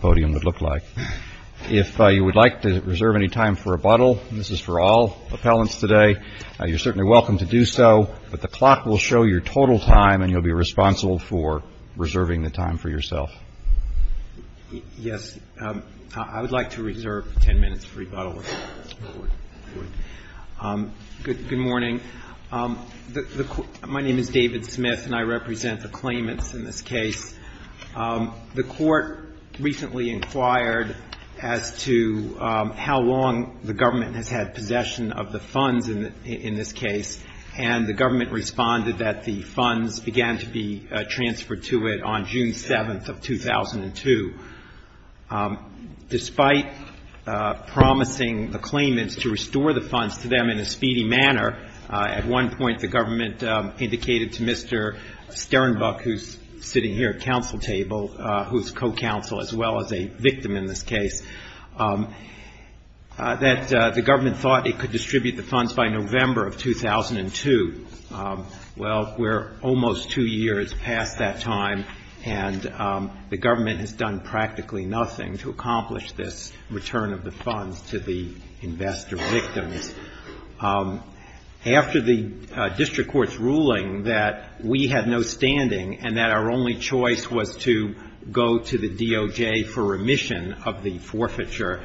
podium would look like. If you would like to reserve any time for rebuttal, this is for all appellants today, you're certainly welcome to do so, but the clock will show your total time and you'll be responsible for reserving the time for yourself. MR. SMITH. Yes. I would like to reserve ten minutes for rebuttal. Good morning. My name is David Smith, and I represent the claimants in this case. The Court recently inquired as to how long the government has had possession of the funds in this case, and the government responded that the funds began to be transferred to it on June 7th of 2002. Despite promising the claimants to restore the funds to them in a speedy manner, at one point the government indicated to Mr. Sternbuck, who's sitting here at counsel table, who's co-counsel as well as a victim in this case, that the government thought it could distribute the funds by November of 2002. Well, we're almost two years past that time, and the government has done practically nothing to accomplish this return of the funds to the investor victims. And after the district court's ruling that we had no standing and that our only choice was to go to the DOJ for remission of the forfeiture,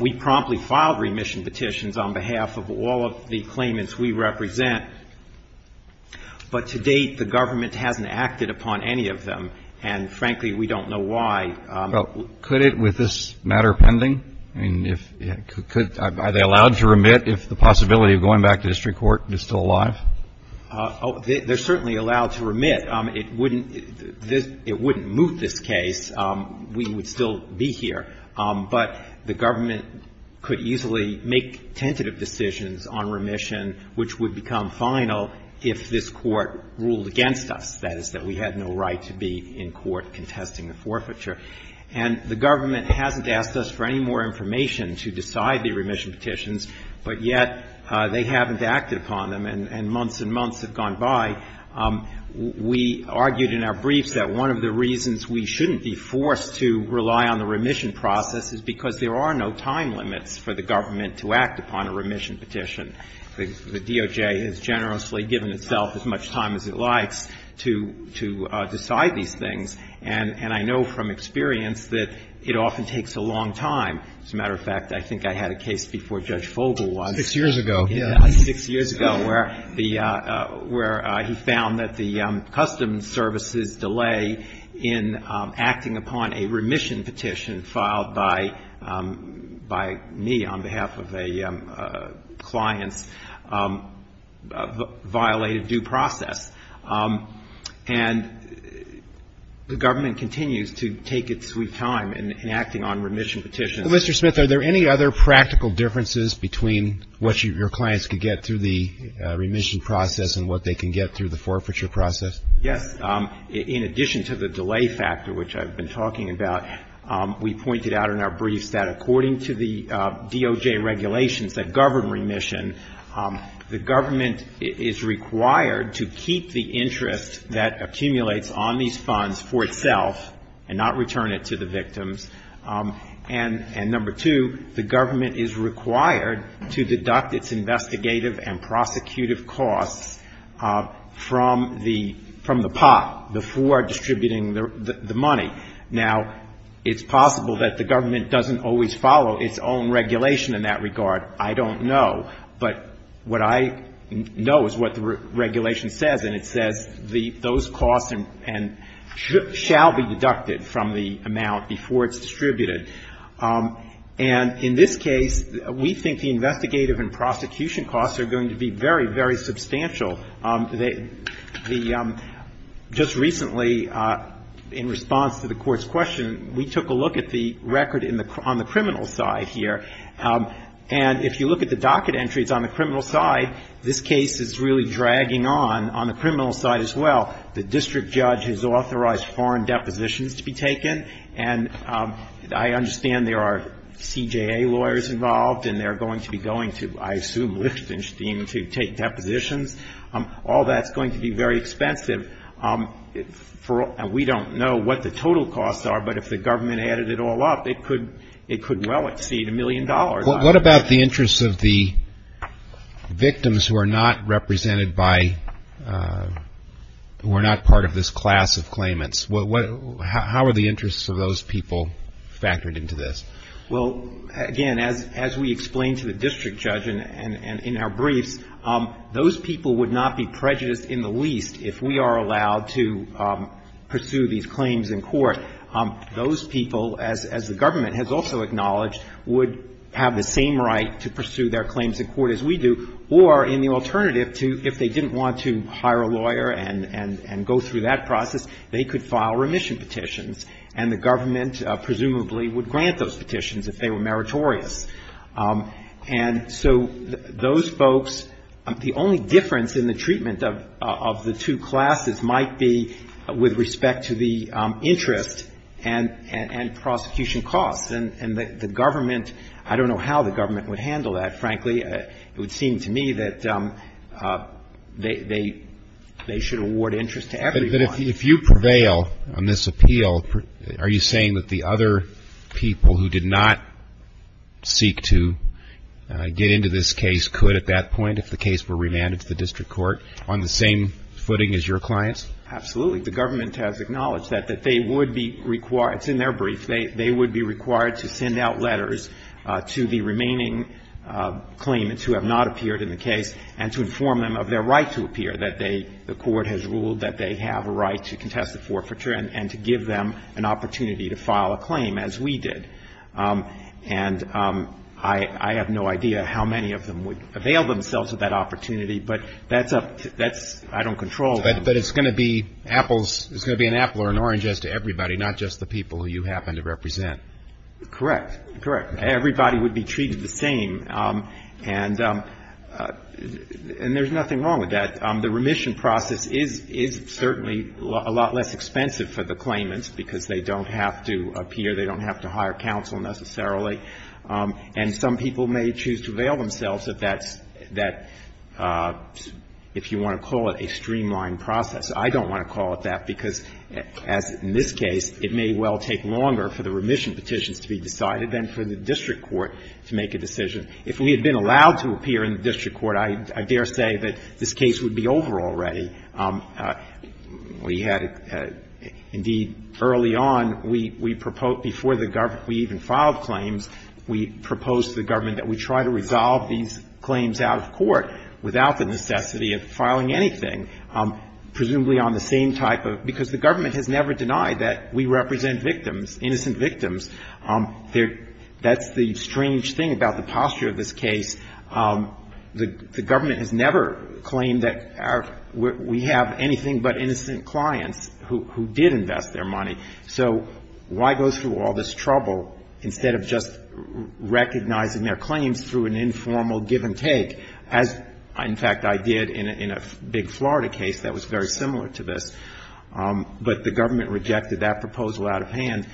we promptly filed remission petitions on behalf of all of the claimants we represent. But to date, the government hasn't acted upon any of them, and frankly, we don't know why. But could it, with this matter pending? I mean, if you could, are they allowed to remit if the possibility of going back to district court is still alive? They're certainly allowed to remit. It wouldn't move this case. We would still be here. But the government could easily make tentative decisions on remission, which would become final if this Court ruled against us, that is, that we had no right to be in court contesting the forfeiture. And the government hasn't asked us for any more information to decide the remission petitions, but yet they haven't acted upon them, and months and months have gone by. We argued in our briefs that one of the reasons we shouldn't be forced to rely on the remission process is because there are no time limits for the government to act upon a remission petition. The DOJ has generously given itself as much time as it likes to decide these things, and I know from experience that it often takes a long time. As a matter of fact, I think I had a case before Judge Fogle was. Six years ago, yes. Six years ago, where the — where he found that the customs services delay in acting upon a remission petition filed by me on behalf of a client's violated due process. And the government continues to take its sweet time in acting on remission petitions. Mr. Smith, are there any other practical differences between what your clients could get through the remission process and what they can get through the forfeiture process? Yes. In addition to the delay factor, which I've been talking about, we pointed out in our briefs that according to the DOJ regulations that govern remission, the government is required to keep the interest that accumulates on these funds for itself and not return it to the victims. And number two, the government is required to deduct its investigative and prosecutive costs from the pot before distributing the money. Now, it's possible that the government doesn't always follow its own regulation in that regard. I don't know. But what I know is what the regulation says, and it says those costs shall be deducted from the amount before it's distributed. And in this case, we think the investigative and prosecution costs are going to be very, very substantial. The — just recently, in response to the Court's question, we took a look at the record on the criminal side here. And if you look at the docket entries on the criminal side, this case is really dragging on on the criminal side as well. The district judge has authorized foreign depositions to be taken. And I understand there are CJA lawyers involved, and they're going to be going to, I assume, Lichtenstein to take depositions. All that's going to be very expensive. We don't know what the total costs are, but if the government added it all up, it could well exceed a million dollars. What about the interests of the victims who are not represented by — who are not part of this class of claimants? How are the interests of those people factored into this? Well, again, as we explained to the district judge in our briefs, those people would not be prejudiced in the least if we are allowed to pursue these claims in court. Those people, as the government has also acknowledged, would have the same right to pursue their claims in court as we do, or in the alternative, if they didn't want to hire a lawyer and go through that process, they could file remission petitions. And the government presumably would grant those petitions if they were meritorious. And so those folks — the only difference in the treatment of the two classes might be with respect to the interest and prosecution costs. And the government — I don't know how the government would handle that, frankly. It would seem to me that they should award interest to everyone. If you prevail on this appeal, are you saying that the other people who did not seek to get into this case could at that point, if the case were remanded to the district court, on the same footing as your clients? Absolutely. The government has acknowledged that, that they would be required — it's in their brief — they would be required to send out letters to the remaining claimants who have not appeared in the case and to inform them of their right to appear, that they — the court has ruled that they have a right to contest the forfeiture and to give them an opportunity to file a claim, as we did. And I have no idea how many of them would avail themselves of that opportunity, but that's up to — that's — I don't control them. But it's going to be apples — it's going to be an apple or an orange as to everybody, not just the people you happen to represent. Correct. Correct. Everybody would be treated the same. And there's nothing wrong with that. The remission process is certainly a lot less expensive for the claimants because they don't have to appear, they don't have to hire counsel, necessarily. And some people may choose to call it a streamlined process. I don't want to call it that because, as in this case, it may well take longer for the remission petitions to be decided than for the district court to make a decision. If we had been allowed to appear in the district court, I dare say that this case would be over already. We had — indeed, early on, we proposed — before the government — we even filed claims, we proposed to the government that we try to resolve these claims out of court without the necessity of filing anything, presumably on the same type of — because the government has never denied that we represent victims, innocent victims. That's the strange thing about the posture of this case. The government has never claimed that we have anything but innocent clients who did invest their money. So why go through all this trouble instead of just recognizing their claims through an informal give-and-take, as, in fact, I did in a big Florida case that was very similar to this? But the government rejected that proposal out of hand.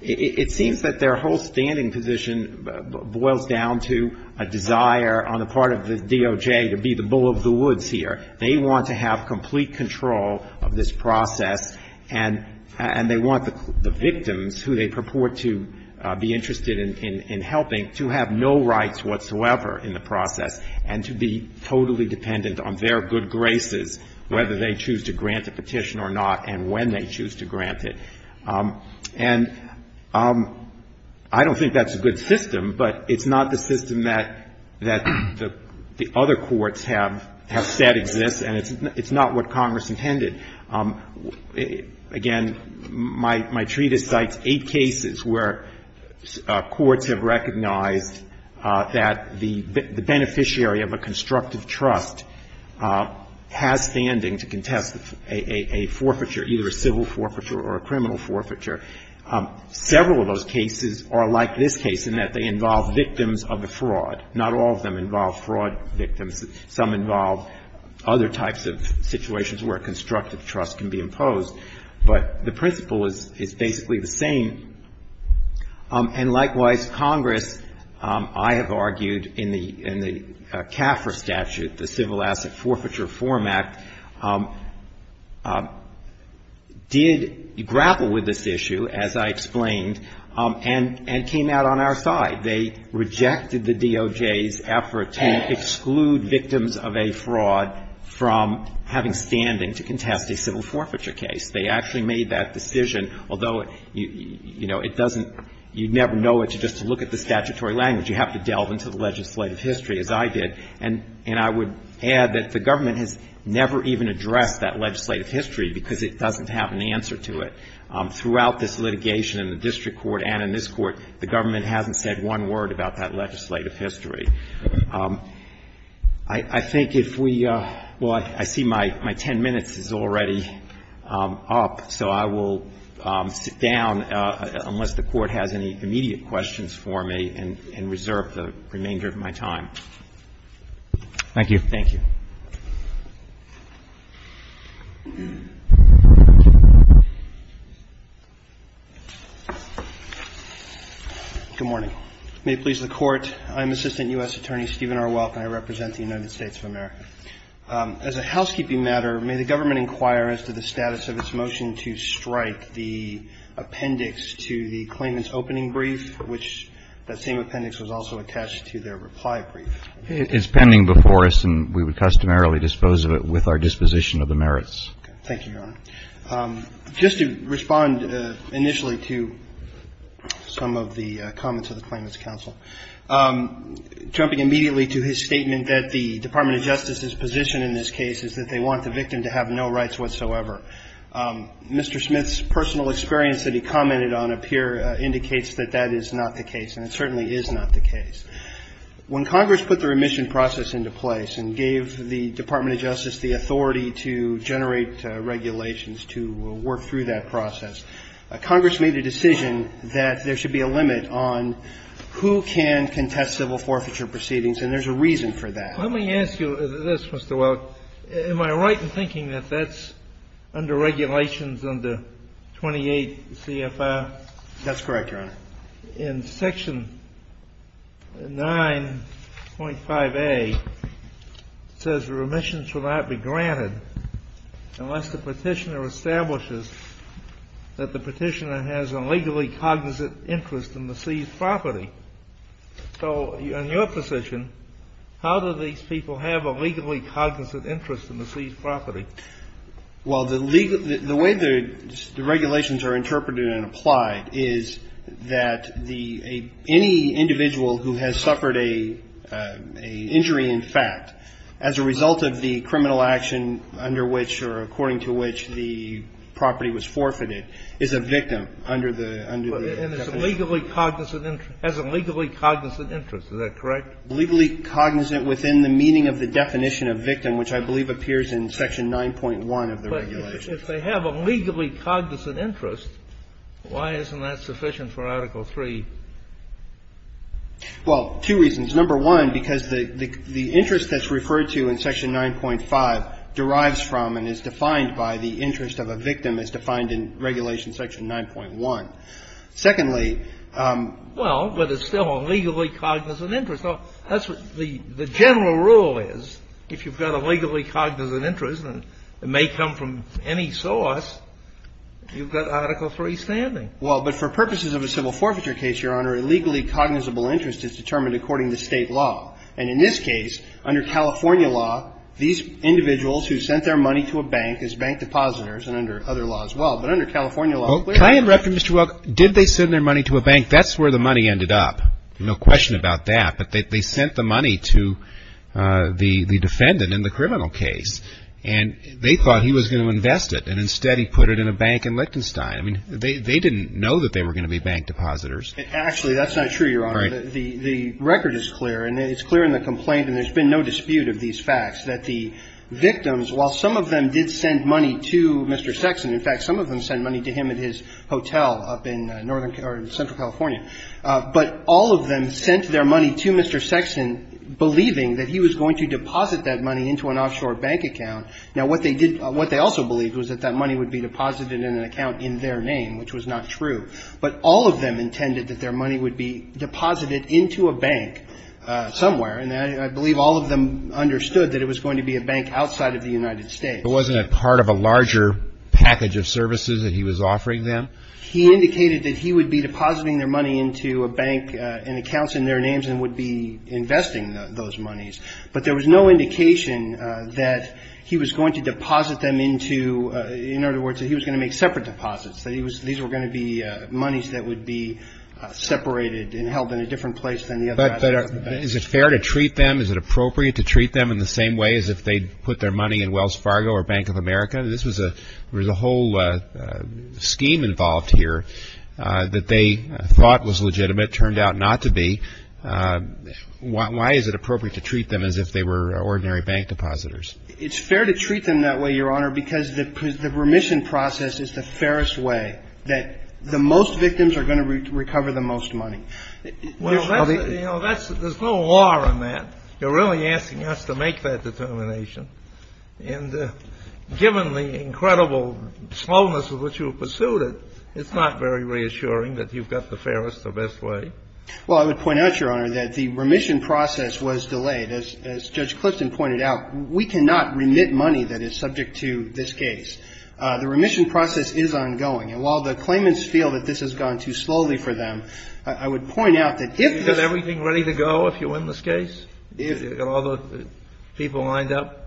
It seems that their whole standing position boils down to a desire on the part of the DOJ to be the bull of the woods here. They want to have complete control of this process, and they want the victims, who they purport to be interested in helping, to have no rights whatsoever in the process, and to be totally dependent on their good graces, whether they choose to grant a petition or not and when they choose to grant it. And I don't think that's a good system, but it's not the system that the other courts have said exists, and it's not what Congress intended. Again, my treatise cites eight cases where courts have recognized that the beneficiary of a constructive trust has standing to contest a forfeiture, either a civil forfeiture or a criminal forfeiture. Several of those cases are like this case in that they involve victims of a fraud. Not all of them involve fraud victims. Some involve other types of situations where constructive trust can be imposed, but the principle is basically the same. And likewise, Congress, I have argued in the CAFR statute, the Civil Asset Forfeiture Form Act, did grapple with this issue, as I explained, and came out on our side. They rejected the DOJ's effort to exclude victims of a fraud from having standing to contest a civil forfeiture case. They actually made that decision, although, you know, it doesn't you never know it just to look at the statutory language. You have to delve into the legislative history, as I did. And I would add that the government has never even addressed that legislative history because it doesn't have an answer to it. Throughout this litigation in the district court and in this court, the government hasn't said one word about that legislative history. I think if we well, I see my ten minutes is already up, so I will sit down unless the Court has any immediate questions for me and reserve the remainder of my time. Thank you. Thank you. Good morning. May it please the Court, I'm Assistant U.S. Attorney at Law for the United States of America. As a housekeeping matter, may the government inquire as to the status of its motion to strike the appendix to the claimant's opening brief, which that same appendix was also attached to their reply brief. It's pending before us, and we would customarily dispose of it with our disposition of the merits. Thank you, Your Honor. Just to respond initially to some of the comments of the Claimants Counsel, jumping immediately to his statement that the Department of Justice's position in this case is that they want the victim to have no rights whatsoever. Mr. Smith's personal experience that he commented on up here indicates that that is not the case, and it certainly is not the case. When Congress put the remission process into place and gave the Department of Justice the authority to generate regulations to work through that process, Congress made a decision that said who can contest civil forfeiture proceedings, and there's a reason for that. Let me ask you this, Mr. Welk. Am I right in thinking that that's under regulations under 28 C.F.I.? That's correct, Your Honor. In Section 9.5a, it says the remission shall not be granted unless the Petitioner establishes that the Petitioner has a legally cognizant interest in the seized property. So in your position, how do these people have a legally cognizant interest in the seized property? Well, the way the regulations are interpreted and applied is that any individual who has suffered an injury in fact as a result of the criminal action under which or according to which the property was forfeited is a victim under the definition. And has a legally cognizant interest. Is that correct? Legally cognizant within the meaning of the definition of victim, which I believe appears in Section 9.1 of the regulations. But if they have a legally cognizant interest, why isn't that sufficient for Article 3? Well, two reasons. Number one, because the interest that's referred to in Section 9.5 derives from and is defined by the interest of a victim as defined in Regulation Section 9.1. Secondly, Well, but it's still a legally cognizant interest. That's what the general rule is. If you've got a legally cognizant interest, and it may come from any source, you've got Article 3 standing. Well, but for purposes of a civil forfeiture case, Your Honor, a legally cognizable interest is determined according to State law. And in this case, under California law, these individuals who sent their money to a bank as bank depositors, and under other laws as well. But under California law, Well, can I interrupt you, Mr. Welk? Did they send their money to a bank? That's where the money ended up. No question about that. But they sent the money to the defendant in the criminal case. And they thought he was going to invest it. And instead, he put it in a bank in Liechtenstein. I mean, they didn't know that they were going to be bank depositors. Actually, that's not true, Your Honor. The record is clear. And it's clear in the complaint, and there's been no dispute of these facts, that the victims, while some of them did send money to Mr. Sexton, in fact, some of them sent money to him at his hotel up in northern or central California. But all of them sent their money to Mr. Sexton, believing that he was going to deposit that money into an offshore bank account. Now, what they did – what they also believed was that that money would be deposited in an account in their name, which was not true. But all of them intended that their money would be deposited into a bank somewhere, and I believe all of them understood that it was going to be a bank outside of the United States. But wasn't it part of a larger package of services that he was offering them? He indicated that he would be depositing their money into a bank and accounts in their names and would be investing those monies. But there was no indication that he was going to deposit them into – in other words, that he was going to make separate deposits. These were going to be monies that would be separated and held in a different place than the other assets. But is it fair to treat them? Is it appropriate to treat them in the same way as if they put their money in Wells Fargo or Bank of America? This was a – there was a whole scheme involved here that they thought was legitimate, turned out not to be. Why is it appropriate to treat them as if they were ordinary bank depositors? It's fair to treat them that way, Your Honor, because the remission process is the fairest way that the most victims are going to recover the most money. Well, that's – there's no law on that. You're really asking us to make that determination. And given the incredible slowness with which you pursued it, it's not very reassuring that you've got the fairest or best way. Well, I would point out, Your Honor, that the remission process was delayed. As Judge Clifton pointed out, we cannot remit money that is subject to this case. The remission process is ongoing. And while the claimants feel that this has gone too slowly for them, I would point out that if – Is everything ready to go if you win this case? If – Are all the people lined up?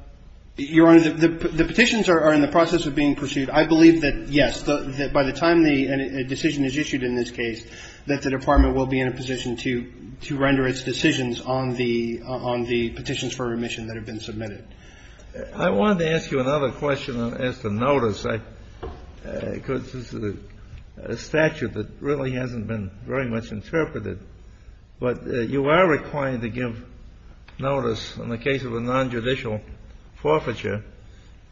Your Honor, the petitions are in the process of being pursued. I believe that, yes, by the time the decision is issued in this case, that the Department will be in a position to render its decisions on the petitions for remission that have been submitted. I wanted to ask you another question as to notice. Because this is a statute that really hasn't been very much interpreted. But you are required to give notice in the case of a nonjudicial forfeiture.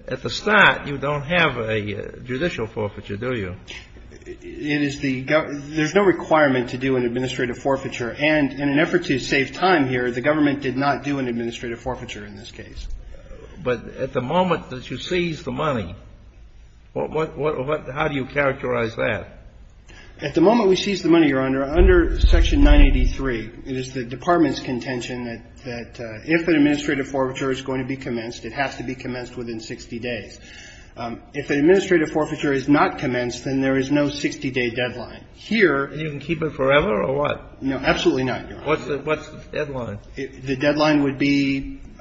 At the start, you don't have a judicial forfeiture, do you? It is the – there's no requirement to do an administrative forfeiture. And in an effort to save time here, the government did not do an administrative forfeiture in this case. But at the moment that you seize the money, what – how do you characterize that? At the moment we seize the money, Your Honor, under Section 983, it is the Department's contention that if an administrative forfeiture is going to be commenced, it has to be commenced within 60 days. If an administrative forfeiture is not commenced, then there is no 60-day deadline. Here – You can keep it forever or what? No, absolutely not, Your Honor. What's the deadline? The deadline would be –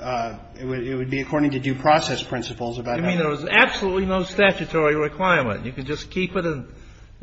it would be according to due process principles. You mean there was absolutely no statutory requirement? You could just keep it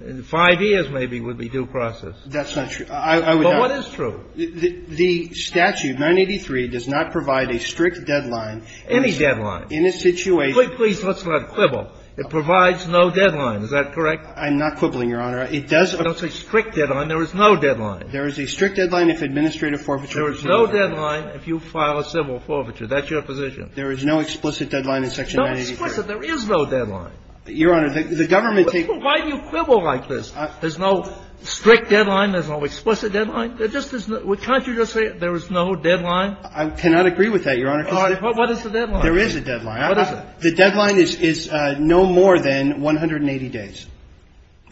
and five years maybe would be due process. That's not true. I would not – But what is true? The statute, 983, does not provide a strict deadline. Any deadline? In a situation – Please, let's not quibble. It provides no deadline. Is that correct? I'm not quibbling, Your Honor. It does – I don't say strict deadline. There is no deadline. There is a strict deadline if administrative forfeiture – There is no deadline if you file a civil forfeiture. That's your position. There is no explicit deadline in Section 983. No explicit. There is no deadline. Your Honor, the government – Why do you quibble like this? There's no strict deadline. There's no explicit deadline. There just is – can't you just say there is no deadline? I cannot agree with that, Your Honor, because – All right. What is the deadline? There is a deadline. What is it? The deadline is no more than 180 days.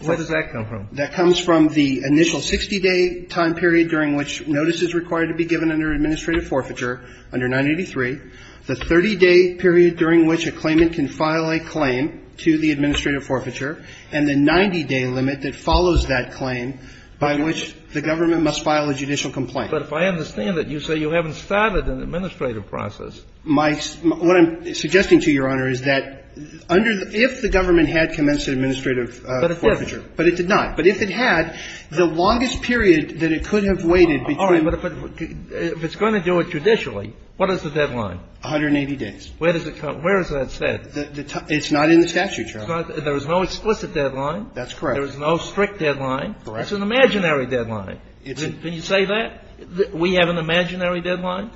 Where does that come from? That comes from the initial 60-day time period during which notice is required to be given under administrative forfeiture under 983, the 30-day period during which a claimant can file a claim to the administrative forfeiture, and the 90-day limit that follows that claim by which the government must file a judicial complaint. But if I understand it, you say you haven't started an administrative process. My – what I'm suggesting to you, Your Honor, is that under – if the government had commenced an administrative forfeiture – But if it had, the longest period that it could have waited between – All right. But if it's going to do it judicially, what is the deadline? 180 days. Where does it come – where is that set? It's not in the statute, Your Honor. There is no explicit deadline. That's correct. There is no strict deadline. Correct. It's an imaginary deadline. Can you say that? We have an imaginary deadline?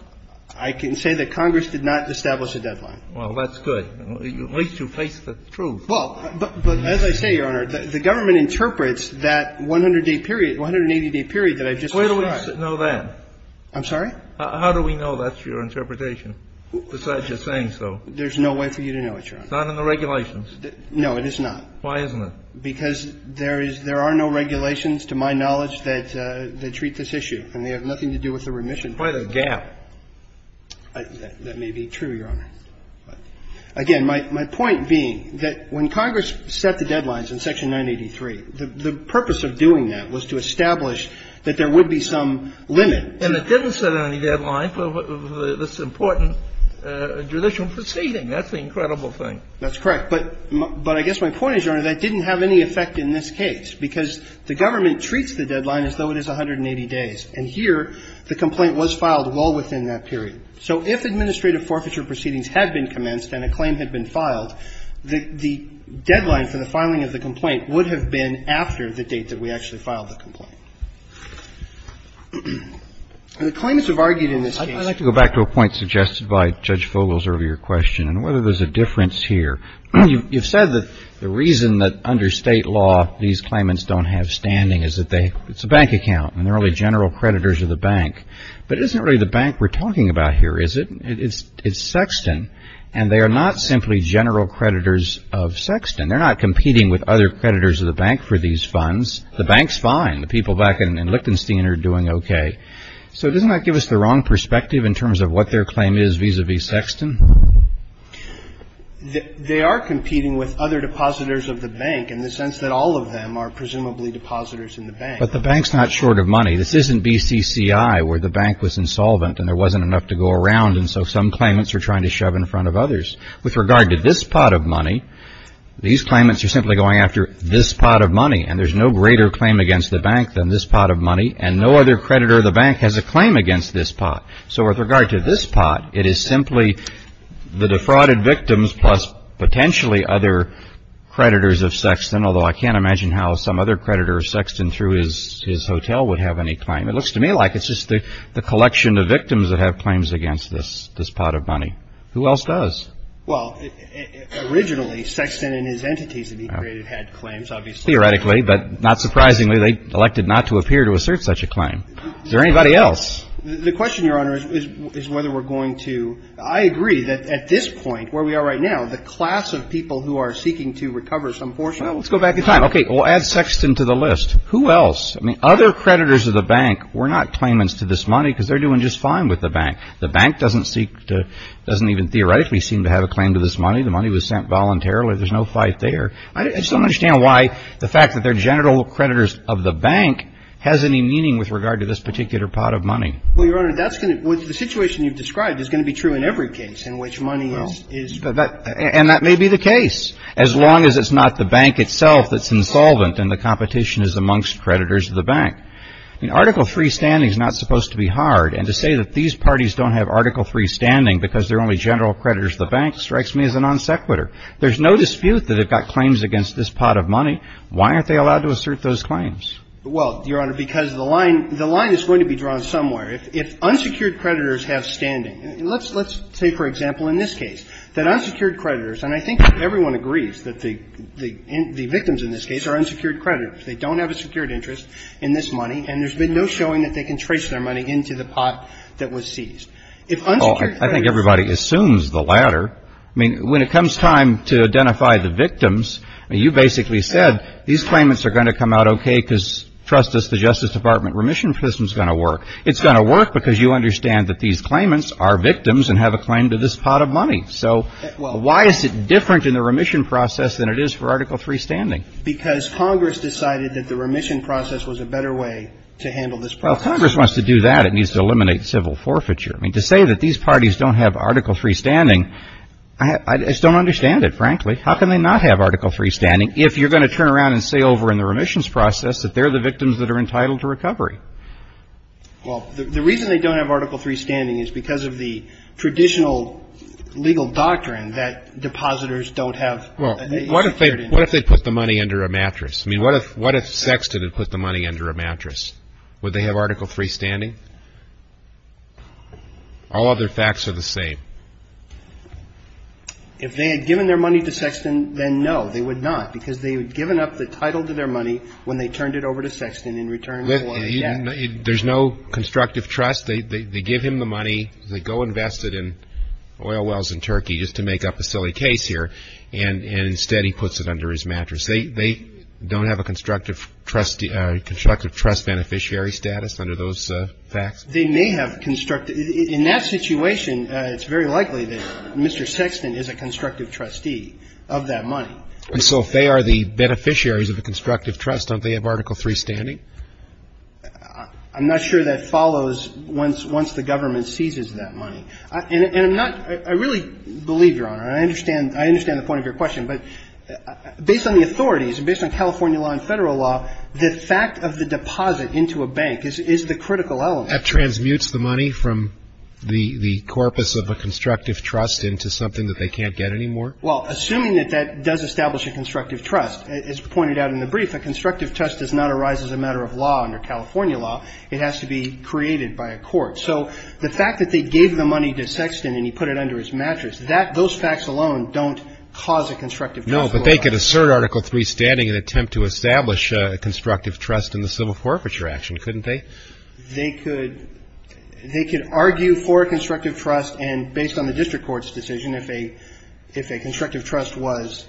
I can say that Congress did not establish a deadline. Well, that's good. At least you face the truth. Well, but as I say, Your Honor, the government interprets that 100-day period, 180-day period that I've just described. Where do we know that? I'm sorry? How do we know that's your interpretation, besides just saying so? There's no way for you to know it, Your Honor. It's not in the regulations. No, it is not. Why isn't it? Because there is – there are no regulations, to my knowledge, that treat this issue, and they have nothing to do with the remission. Quite a gap. That may be true, Your Honor. Again, my point being that when Congress set the deadlines in Section 983, the purpose of doing that was to establish that there would be some limit. And it didn't set any deadline for this important judicial proceeding. That's the incredible thing. That's correct. But I guess my point is, Your Honor, that didn't have any effect in this case, because the government treats the deadline as though it is 180 days. And here, the complaint was filed well within that period. So if administrative forfeiture proceedings had been commenced, and a claim had been filed, the deadline for the filing of the complaint would have been after the date that we actually filed the complaint. The claimants have argued in this case – I'd like to go back to a point suggested by Judge Fogel's earlier question, and whether there's a difference here. You've said that the reason that under State law, these claimants don't have standing is that they – it's a bank account, and they're only general creditors of the bank. But it isn't really the bank we're talking about here, is it? It's Sexton. And they are not simply general creditors of Sexton. They're not competing with other creditors of the bank for these funds. The bank's fine. The people back in Lichtenstein are doing okay. So doesn't that give us the wrong perspective in terms of what their claim is vis-à-vis Sexton? They are competing with other depositors of the bank in the sense that all of them are presumably depositors in the bank. But the bank's not short of money. This isn't BCCI where the bank was insolvent and there wasn't enough to go around, and so some claimants are trying to shove in front of others. With regard to this pot of money, these claimants are simply going after this pot of money, and there's no greater claim against the bank than this pot of money, and no other creditor of the bank has a claim against this pot. So with regard to this pot, it is simply the defrauded victims plus potentially other creditors of Sexton, although I can't imagine how some other creditor of Sexton through his hotel would have any claim. It looks to me like it's just the collection of victims that have claims against this pot of money. Who else does? Well, originally, Sexton and his entities that he created had claims, obviously. Theoretically, but not surprisingly, they elected not to appear to assert such a claim. Is there anybody else? The question, Your Honor, is whether we're going to – I agree that at this point, where we are right now, the class of people who are seeking to recover some portion of – Let's go back in time. Okay, we'll add Sexton to the list. Who else? I mean, other creditors of the bank were not claimants to this money because they're doing just fine with the bank. The bank doesn't even theoretically seem to have a claim to this money. The money was sent voluntarily. There's no fight there. I just don't understand why the fact that they're general creditors of the bank has any meaning with regard to this particular pot of money. Well, Your Honor, the situation you've described is going to be true in every case in which money is – And that may be the case, as long as it's not the bank itself that's insolvent and the competition is amongst creditors of the bank. Article III standing is not supposed to be hard, and to say that these parties don't have Article III standing because they're only general creditors of the bank strikes me as a non sequitur. There's no dispute that they've got claims against this pot of money. Why aren't they allowed to assert those claims? Well, Your Honor, because the line is going to be drawn somewhere. If unsecured creditors have standing – Let's say, for example, in this case, that unsecured creditors – They don't have a secured interest in this money, and there's been no showing that they can trace their money into the pot that was seized. If unsecured creditors – Well, I think everybody assumes the latter. I mean, when it comes time to identify the victims, you basically said, these claimants are going to come out okay because, trust us, the Justice Department remission system's going to work. It's going to work because you understand that these claimants are victims and have a claim to this pot of money. So why is it different in the remission process than it is for Article III standing? Because Congress decided that the remission process was a better way to handle this process. Well, if Congress wants to do that, it needs to eliminate civil forfeiture. I mean, to say that these parties don't have Article III standing, I just don't understand it, frankly. How can they not have Article III standing if you're going to turn around and say over in the remissions process that they're the victims that are entitled to recovery? Well, the reason they don't have Article III standing is because of the traditional legal doctrine that depositors don't have a secured interest. What if they put the money under a mattress? I mean, what if Sexton had put the money under a mattress? Would they have Article III standing? All other facts are the same. If they had given their money to Sexton, then no, they would not because they had given up the title to their money when they turned it over to Sexton in return for a debt. There's no constructive trust. They give him the money. They go invest it in oil wells in Turkey just to make up a silly case here. And instead he puts it under his mattress. They don't have a constructive trust beneficiary status under those facts? They may have constructive... In that situation, it's very likely that Mr. Sexton is a constructive trustee of that money. So if they are the beneficiaries of the constructive trust, don't they have Article III standing? I'm not sure that follows once the government seizes that money. And I'm not... I really believe, Your Honor, I understand the point of your question, but based on the authorities, based on California law and federal law, the fact of the deposit into a bank is the critical element. That transmutes the money from the corpus of a constructive trust into something that they can't get anymore? Well, assuming that that does establish a constructive trust, as pointed out in the brief, a constructive trust does not arise as a matter of law under California law. It has to be created by a court. So the fact that they gave the money to Sexton and he put it under his mattress, those facts alone don't cause a constructive trust. No, but they could assert Article III standing and attempt to establish a constructive trust in the civil forfeiture action, couldn't they? They could argue for a constructive trust and based on the district court's decision, if a constructive trust was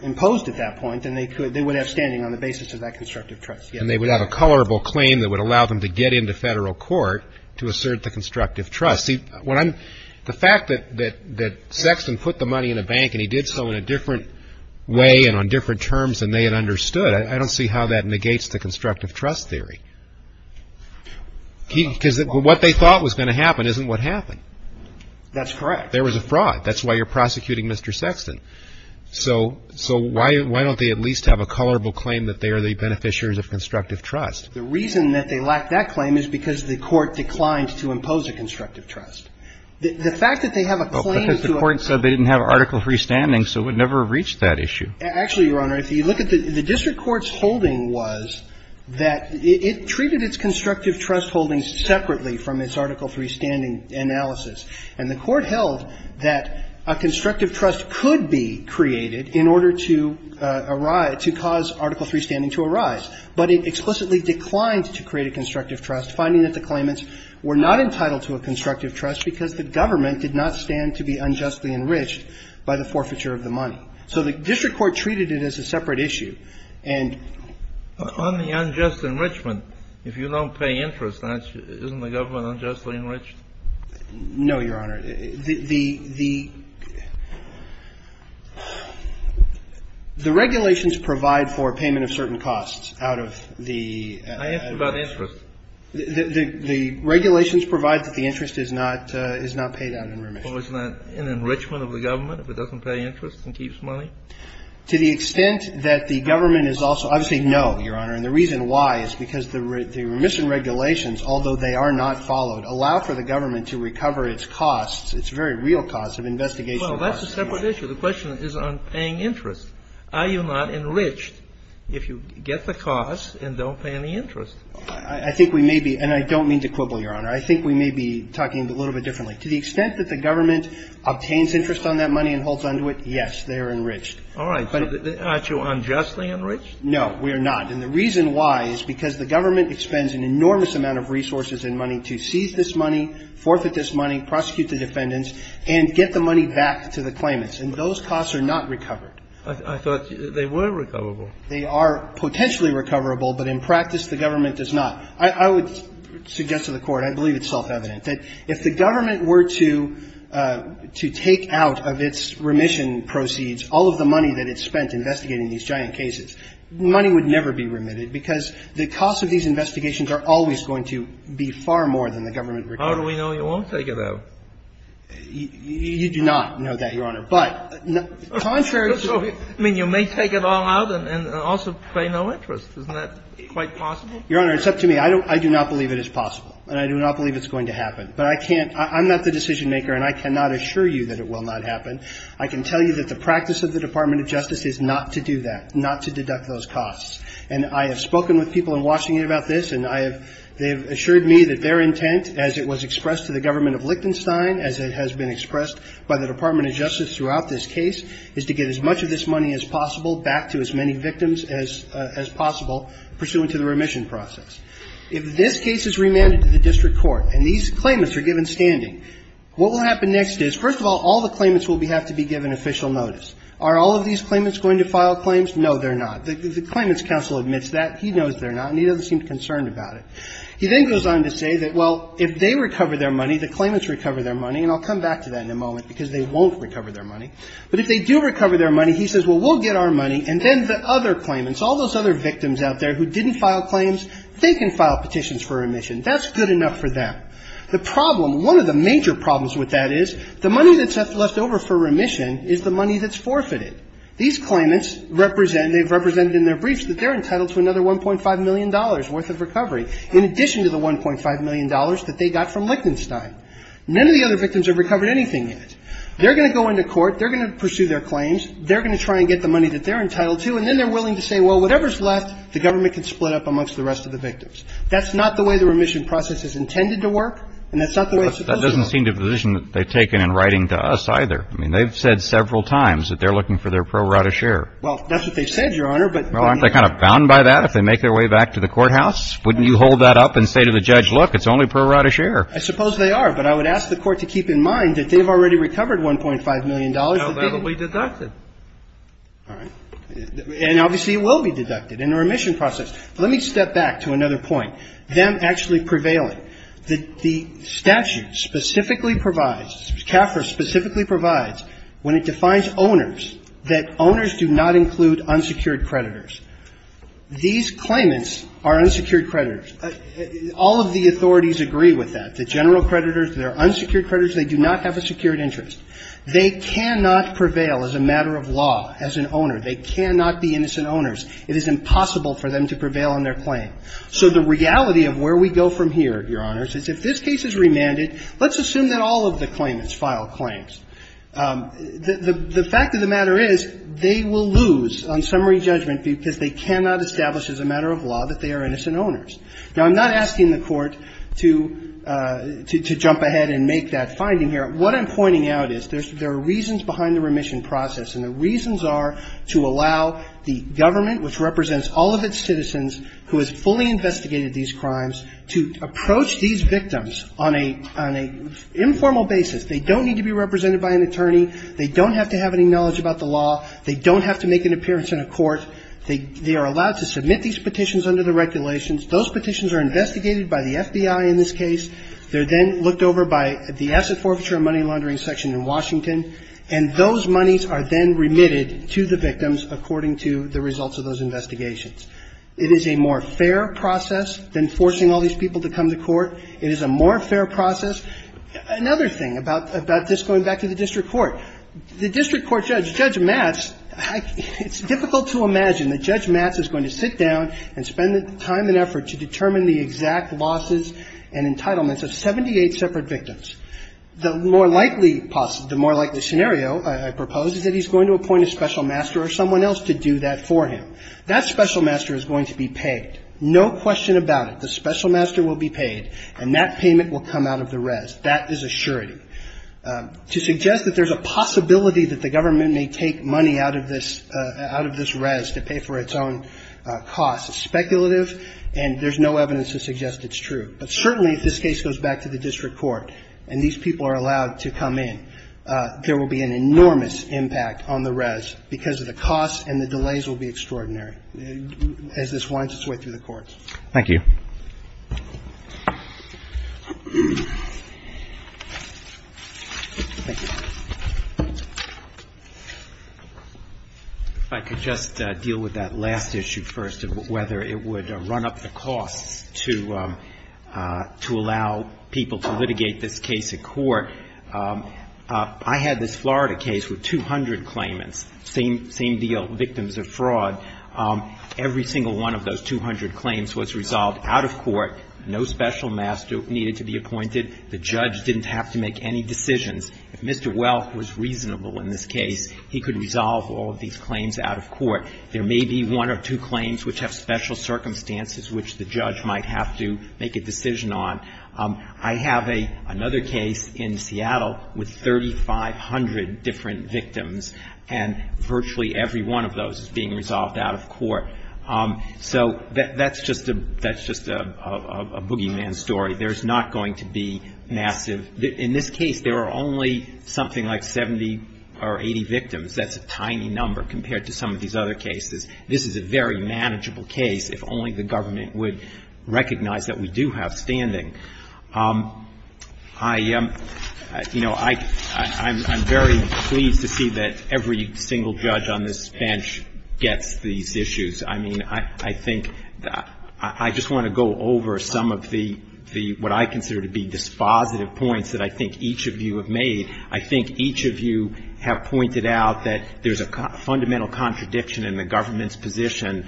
imposed at that point, then they would have standing on the basis of that constructive trust. And they would have a colorable claim that would allow them to get into federal court to assert the constructive trust. See, the fact that Sexton put the money in a bank and he did so in a different way and on different terms than they had understood, I don't see how that negates the constructive trust theory. Because what they thought was going to happen isn't what happened. That's correct. There was a fraud. That's why you're prosecuting Mr. Sexton. So why don't they at least have a colorable claim that they are the beneficiaries of constructive trust? The reason that they lack that claim is because the court declined to impose a constructive trust. The fact that they have a claim to a... Because the court said they didn't have Article III standing, so it would never have reached that issue. Actually, Your Honor, if you look at the district court's holding was that it treated its constructive trust holdings separately from its Article III standing analysis. And the court held that a constructive trust could be created in order to cause Article III standing to arise. But it explicitly declined to create a constructive trust, finding that the claimants were not entitled to a constructive trust because the government did not stand to be unjustly enriched by the forfeiture of the money. So the district court treated it as a separate issue. And... On the unjust enrichment, if you don't pay interest, isn't the government unjustly enriched? No, Your Honor. The regulations provide for payment of certain costs out of the... I asked about interest. The regulations provide that the interest is not paid out in remission. Well, isn't that an enrichment of the government if it doesn't pay interest and keeps money? To the extent that the government is also... Obviously, no, Your Honor. And the reason why is because the remission regulations, although they are not followed, allow for the government to recover its costs, its very real costs, of investigation... Well, that's a separate issue. The question is on paying interest. Are you not enriched if you get the costs and don't pay any interest? I think we may be, and I don't mean to quibble, Your Honor. I think we may be talking a little bit differently. To the extent that the government obtains interest on that money and holds on to it, yes, they are enriched. All right. Aren't you unjustly enriched? No, we are not. And the reason why is because the government expends an enormous amount of resources and money to seize this money, forfeit this money, prosecute the defendants, and get the money back to the claimants. And those costs are not recovered. I thought they were recoverable. They are potentially recoverable but in practice the government does not. I would suggest to the Court and I believe it's self-evident that if the government were to take out of its remission proceeds all of the money that it spent investigating these giant cases, money would never be remitted because the cost of these investigations are always going to be far more than the government requires. How do we know you won't take it out? You do not know that, Your Honor. But contrary to I mean, you may take it all out and also pay no interest. Isn't that quite possible? Your Honor, it's up to me. I do not believe it is possible and I do not believe it's going to happen. But I can't I'm not the decision maker and I cannot assure you that it will not happen. I can tell you that the practice of the Department of Justice is not to do that, not to deduct those costs. And I have spoken with people in Washington about this and they have assured me that their intent as it was expressed to the government of Lichtenstein as it has been expressed by the Department of Justice throughout this case is to get as much of this money as possible back to as many victims as possible pursuant to the remission process. If this case is remanded to the district court and these claimants are given standing, what will happen next is, first of all, all the claimants will have to be given official notice. Are all of these claimants going to file claims? No, they're not. The claimant's counsel admits that. He knows they're not and he doesn't seem concerned about it. He then goes on to say that, well, if they recover their money, the claimants recover their money and I'll come back to that in a moment because they won't recover their money, but if they do recover their money, he says, well, we'll get our money and then the other claimants, all those other victims out there who didn't file claims, they can file petitions for remission. That's good enough for them. The problem, one of the major problems with that is the money that's left over for remission is the money that's forfeited. These claimants represent, they've represented in their briefs that they're entitled to another $1.5 million worth of recovery in addition to the $1.5 million that they got from Lichtenstein. None of the other victims have recovered anything yet. They're going to go into court, they're going to pursue their claims, they're going to try and get the money that they're entitled to and then they're willing to say, well, whatever's left, the government can split up amongst the rest of the victims. That's not the way the remission process is intended to work and that's not the way it's supposed to work. Well, that doesn't seem to be the position that they've taken in writing to us either. I mean, they've said several times that they're looking for their pro rata share. Well, that's what they've said, Your Honor, but Aren't they kind of bound by that if they make their way back to the courthouse? Wouldn't you hold that up and say to the judge, look, it's only pro rata share? I suppose they are, but I would ask the court to keep in mind that they've already recovered $1.5 million How about if we deduct it? All right. And obviously it will be deducted in the remission process. Let me step back to another point. Them actually prevailing. The statute specifically provides, CAFRA specifically provides, when it defines owners, that owners do not include unsecured creditors. These claimants are unsecured creditors. All of the authorities agree with that. The general creditors, they're unsecured creditors, they do not have a secured interest. They cannot prevail as a matter of law as an owner. They cannot be innocent owners. It is impossible for them to prevail on their what I'm pointing out here, Your Honor, is if this case is remanded, let's assume that all of the claimants file claims. The fact of the matter is they will lose on summary judgment because they cannot establish as a matter of law that they are innocent owners. Now, I'm not asking the court to jump ahead and make that finding here. What I'm pointing out is there are reasons behind the remission process. And the reasons are to allow the government which represents all of its citizens who has fully investigated these crimes to approach these victims on an informal basis. They don't need to be represented by an attorney. They don't have to have any knowledge about the law. They don't have to make an appearance in a court. They are allowed to submit these petitions under the regulations. Those petitions are subject to a special master or someone else to do that for him. That special master is going to be paid. No question about it. The special master will be paid and that payment will come out of the res. That is a surety. To suggest that there is a possibility that the government may take money out of this res to pay for its own cost is speculative. Certainly if this case goes back to the district court and these people are allowed to come in there will be an enormous impact on the court. Thank you. If I could just deal with that last issue first of whether it would run up the costs to allow people to litigate this case in court. I had this Florida case with 200 claimants, same deal victims of fraud. Every single one of those 200 claims was resolved out of court. No special master needed to be appointed. The judge didn't have to make any decisions. If Mr. Welk was reasonable in this case, he could resolve all of these claims out of court. There may be one or two claims which have special circumstances which the judge might have to make a decision on. I have another case in Seattle with 3,500 different victims and virtually every one of those is being resolved out of court. That's just a boogeyman story. There's not going to be massive in this case there are only 70 or 80 victims. That's a tiny number compared to some of these other cases. This is a very manageable case if only the government would recognize that we do have standing. I'm very pleased to see that every single judge on this bench gets these issues. I just want to go over some of the what I consider to be dispositive points that I made. You have pointed out that there's a fundamental contradiction in the government's position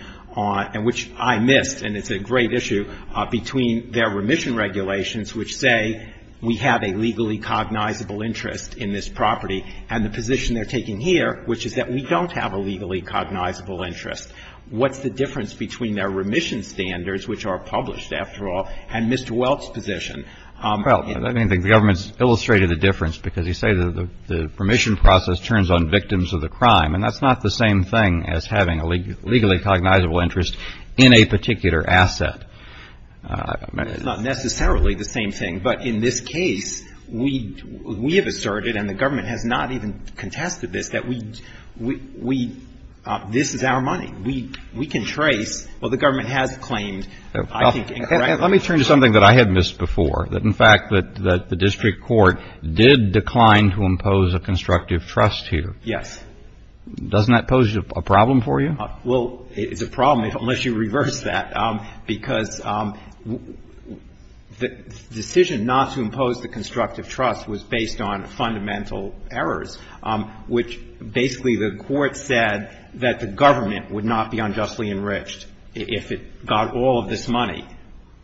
which I missed and it's a great issue between their remission regulations which say we have a legally cognizable interest in this property and the position they're here which is that we don't have a legally cognizable interest. What's the difference between their remission standards which are published after all and Mr. Welch's position? The government has stated and the government has not even contested this that this is our money. We can trace what the government has claimed. Let me turn to something I missed before. The district court did decline to impose the constructive trust here. Doesn't that pose a problem for you? It's a problem unless you reverse that. The decision not to impose the constructive trust was based on fundamental errors which basically the court said that the government would not be unjustly enriched if it got all of this money.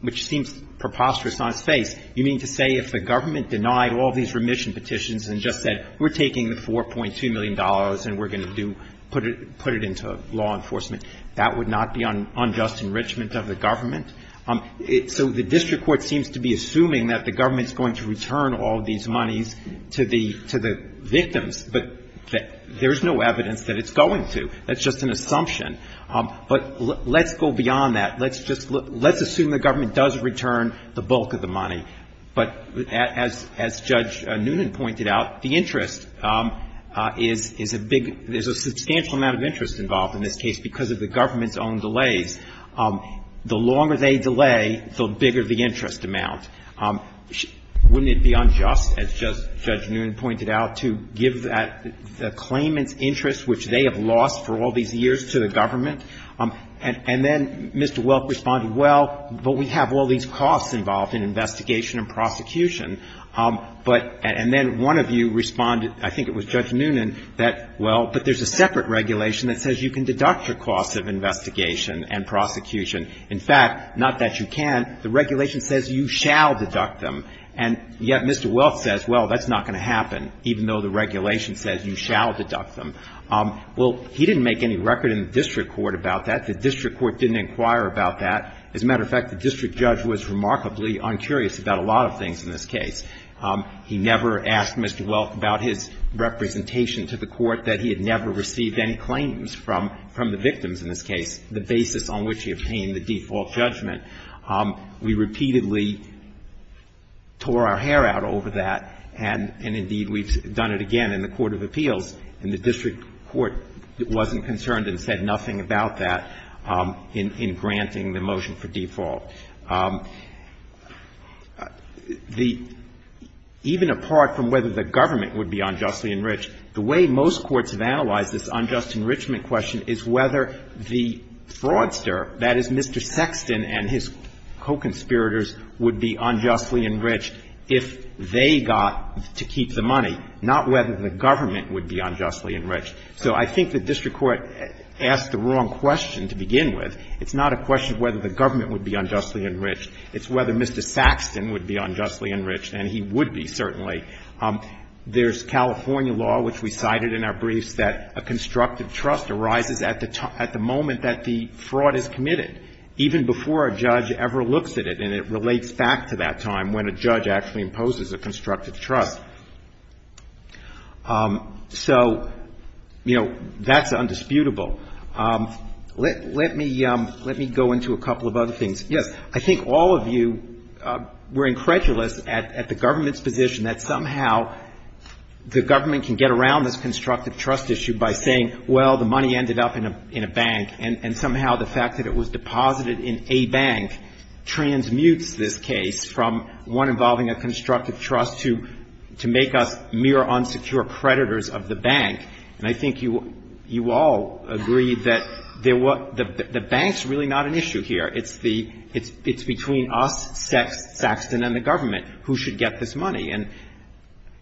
Which seems preposterous on its face. You mean to say if the government denied the remission petitions and said we're taking the $4.2 million and we're going to put it into law enforcement that would not be unjust enrichment of the government? The district court assumes the government will return the money to the victims but there's no evidence that it's going to. That's just an assumption. Let's assume the government does return the bulk money. As Judge Noonan pointed out there's a substantial amount of interest because of the government's own delays. The longer they delay the bigger the interest amount. Wouldn't it be unjust as Judge Noonan pointed out to give the claimant's interest which they have lost to the government? Mr. Welk responded well but we have all these costs involved in investigation and prosecution but there's a separate regulation that says you can deduct the costs of investigation and prosecution. In fact the regulation says you shall deduct them and yet Mr. Welk says that's not going to happen even though the regulation says you shall deduct them. He didn't make any record in the district court about that. The district judge was uncurious about a lot of things in this case. He never asked Mr. Welk about his representation to the court that he have. He said nothing about that in granting the motion for default. Even apart from whether the government would be unjustly enriched, the way most courts have analyzed this unjust enrichment question is whether the fraudster would be unjustly enriched if they got to keep the money. I think the district court asked the wrong question to begin with. It's not a question of whether the government would be unjustly enriched, it's whether Mr. Saxton would be unjustly enriched and he would be certainly. There's California law which we cited in our briefs that a constructive trust arises at the moment that the fraud is committed even before a judge ever looks at it and it relates back to that time when a judge actually imposes a constructive trust. So that's undisputable. Let me go into a couple of other things. Yes, I think all of you were incredulous at the government's position that somehow the government can get around this constructive trust issue by saying well the money ended up in a bank and somehow the fact that it was deposited in a bank transmutes this case from one involving a constructive trust to make us mere unsecure predators of the bank and I think you all agree that the bank is really not an issue here. It's between us, Saxton, and the government who should get this money and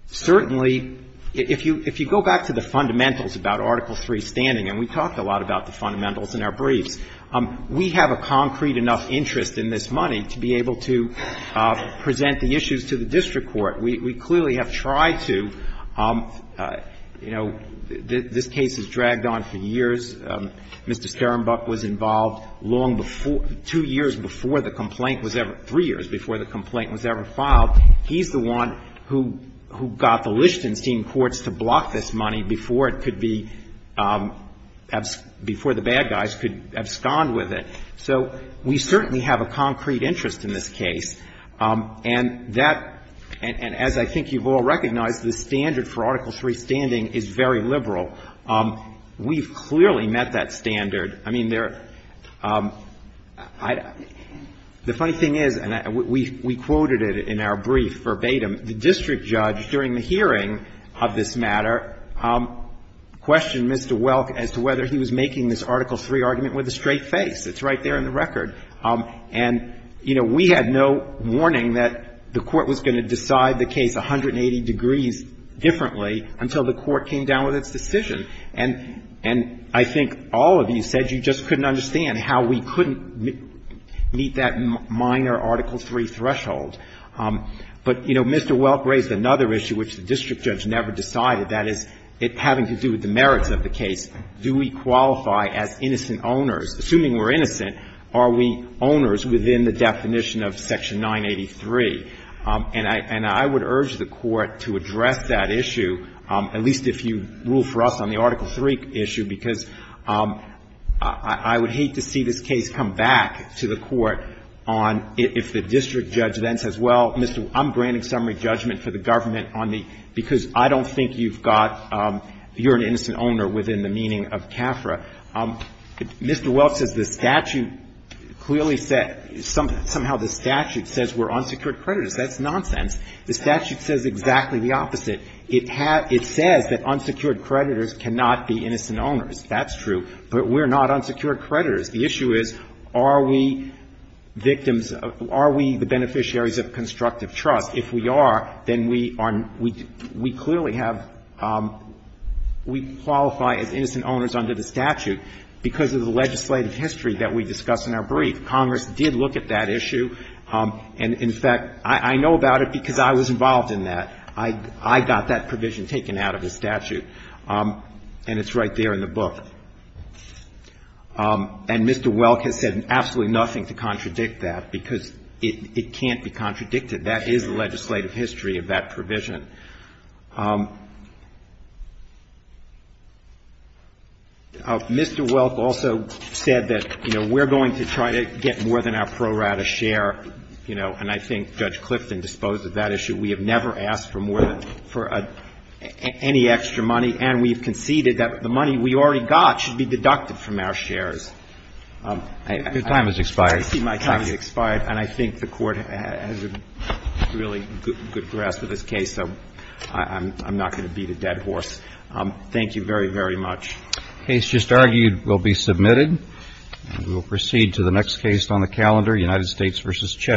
certainly if you go back to the fundamentals about article three standing and we talked a lot about the fundamentals in our briefs we have a concrete enough interest in this money to be able to present the issues to the district court. We clearly have tried to you know this case has dragged on for years Mr. Skarenbuk was we certainly have a concrete interest in this case and as I think you recognize the standard for article three standing is very liberal. We clearly met that standard. The funny thing is we quoted it in our brief verbatim the district judge during the hearing of this matter questioned Mr. Welk as to whether he was making this article three argument with a straight answer to their article three threshold. Mr. Welk raised another issue which the district judge never decided having to do with the merits of the case do we qualify as unsecured creditors? The if the district judge says I'm granting summary judgment for the government because I don't think you're an innocent owner under the statute because of the legislative history that we discussed in our brief. Congress did look at that issue and in fact I know about it because I was involved in that. I got that I can't contradict that because it can't be contradicted that is the legislative history of that provision. Mr. Welk also said we're going to try to get more than our pro rata share and I think Judge Clifton disposed of that issue we have never asked for any extra money and we conceded the money we already got should be deducted from our shares and I think the court has a really good grasp of this case so I'm not going to beat a dead horse thank you very very much thank you very much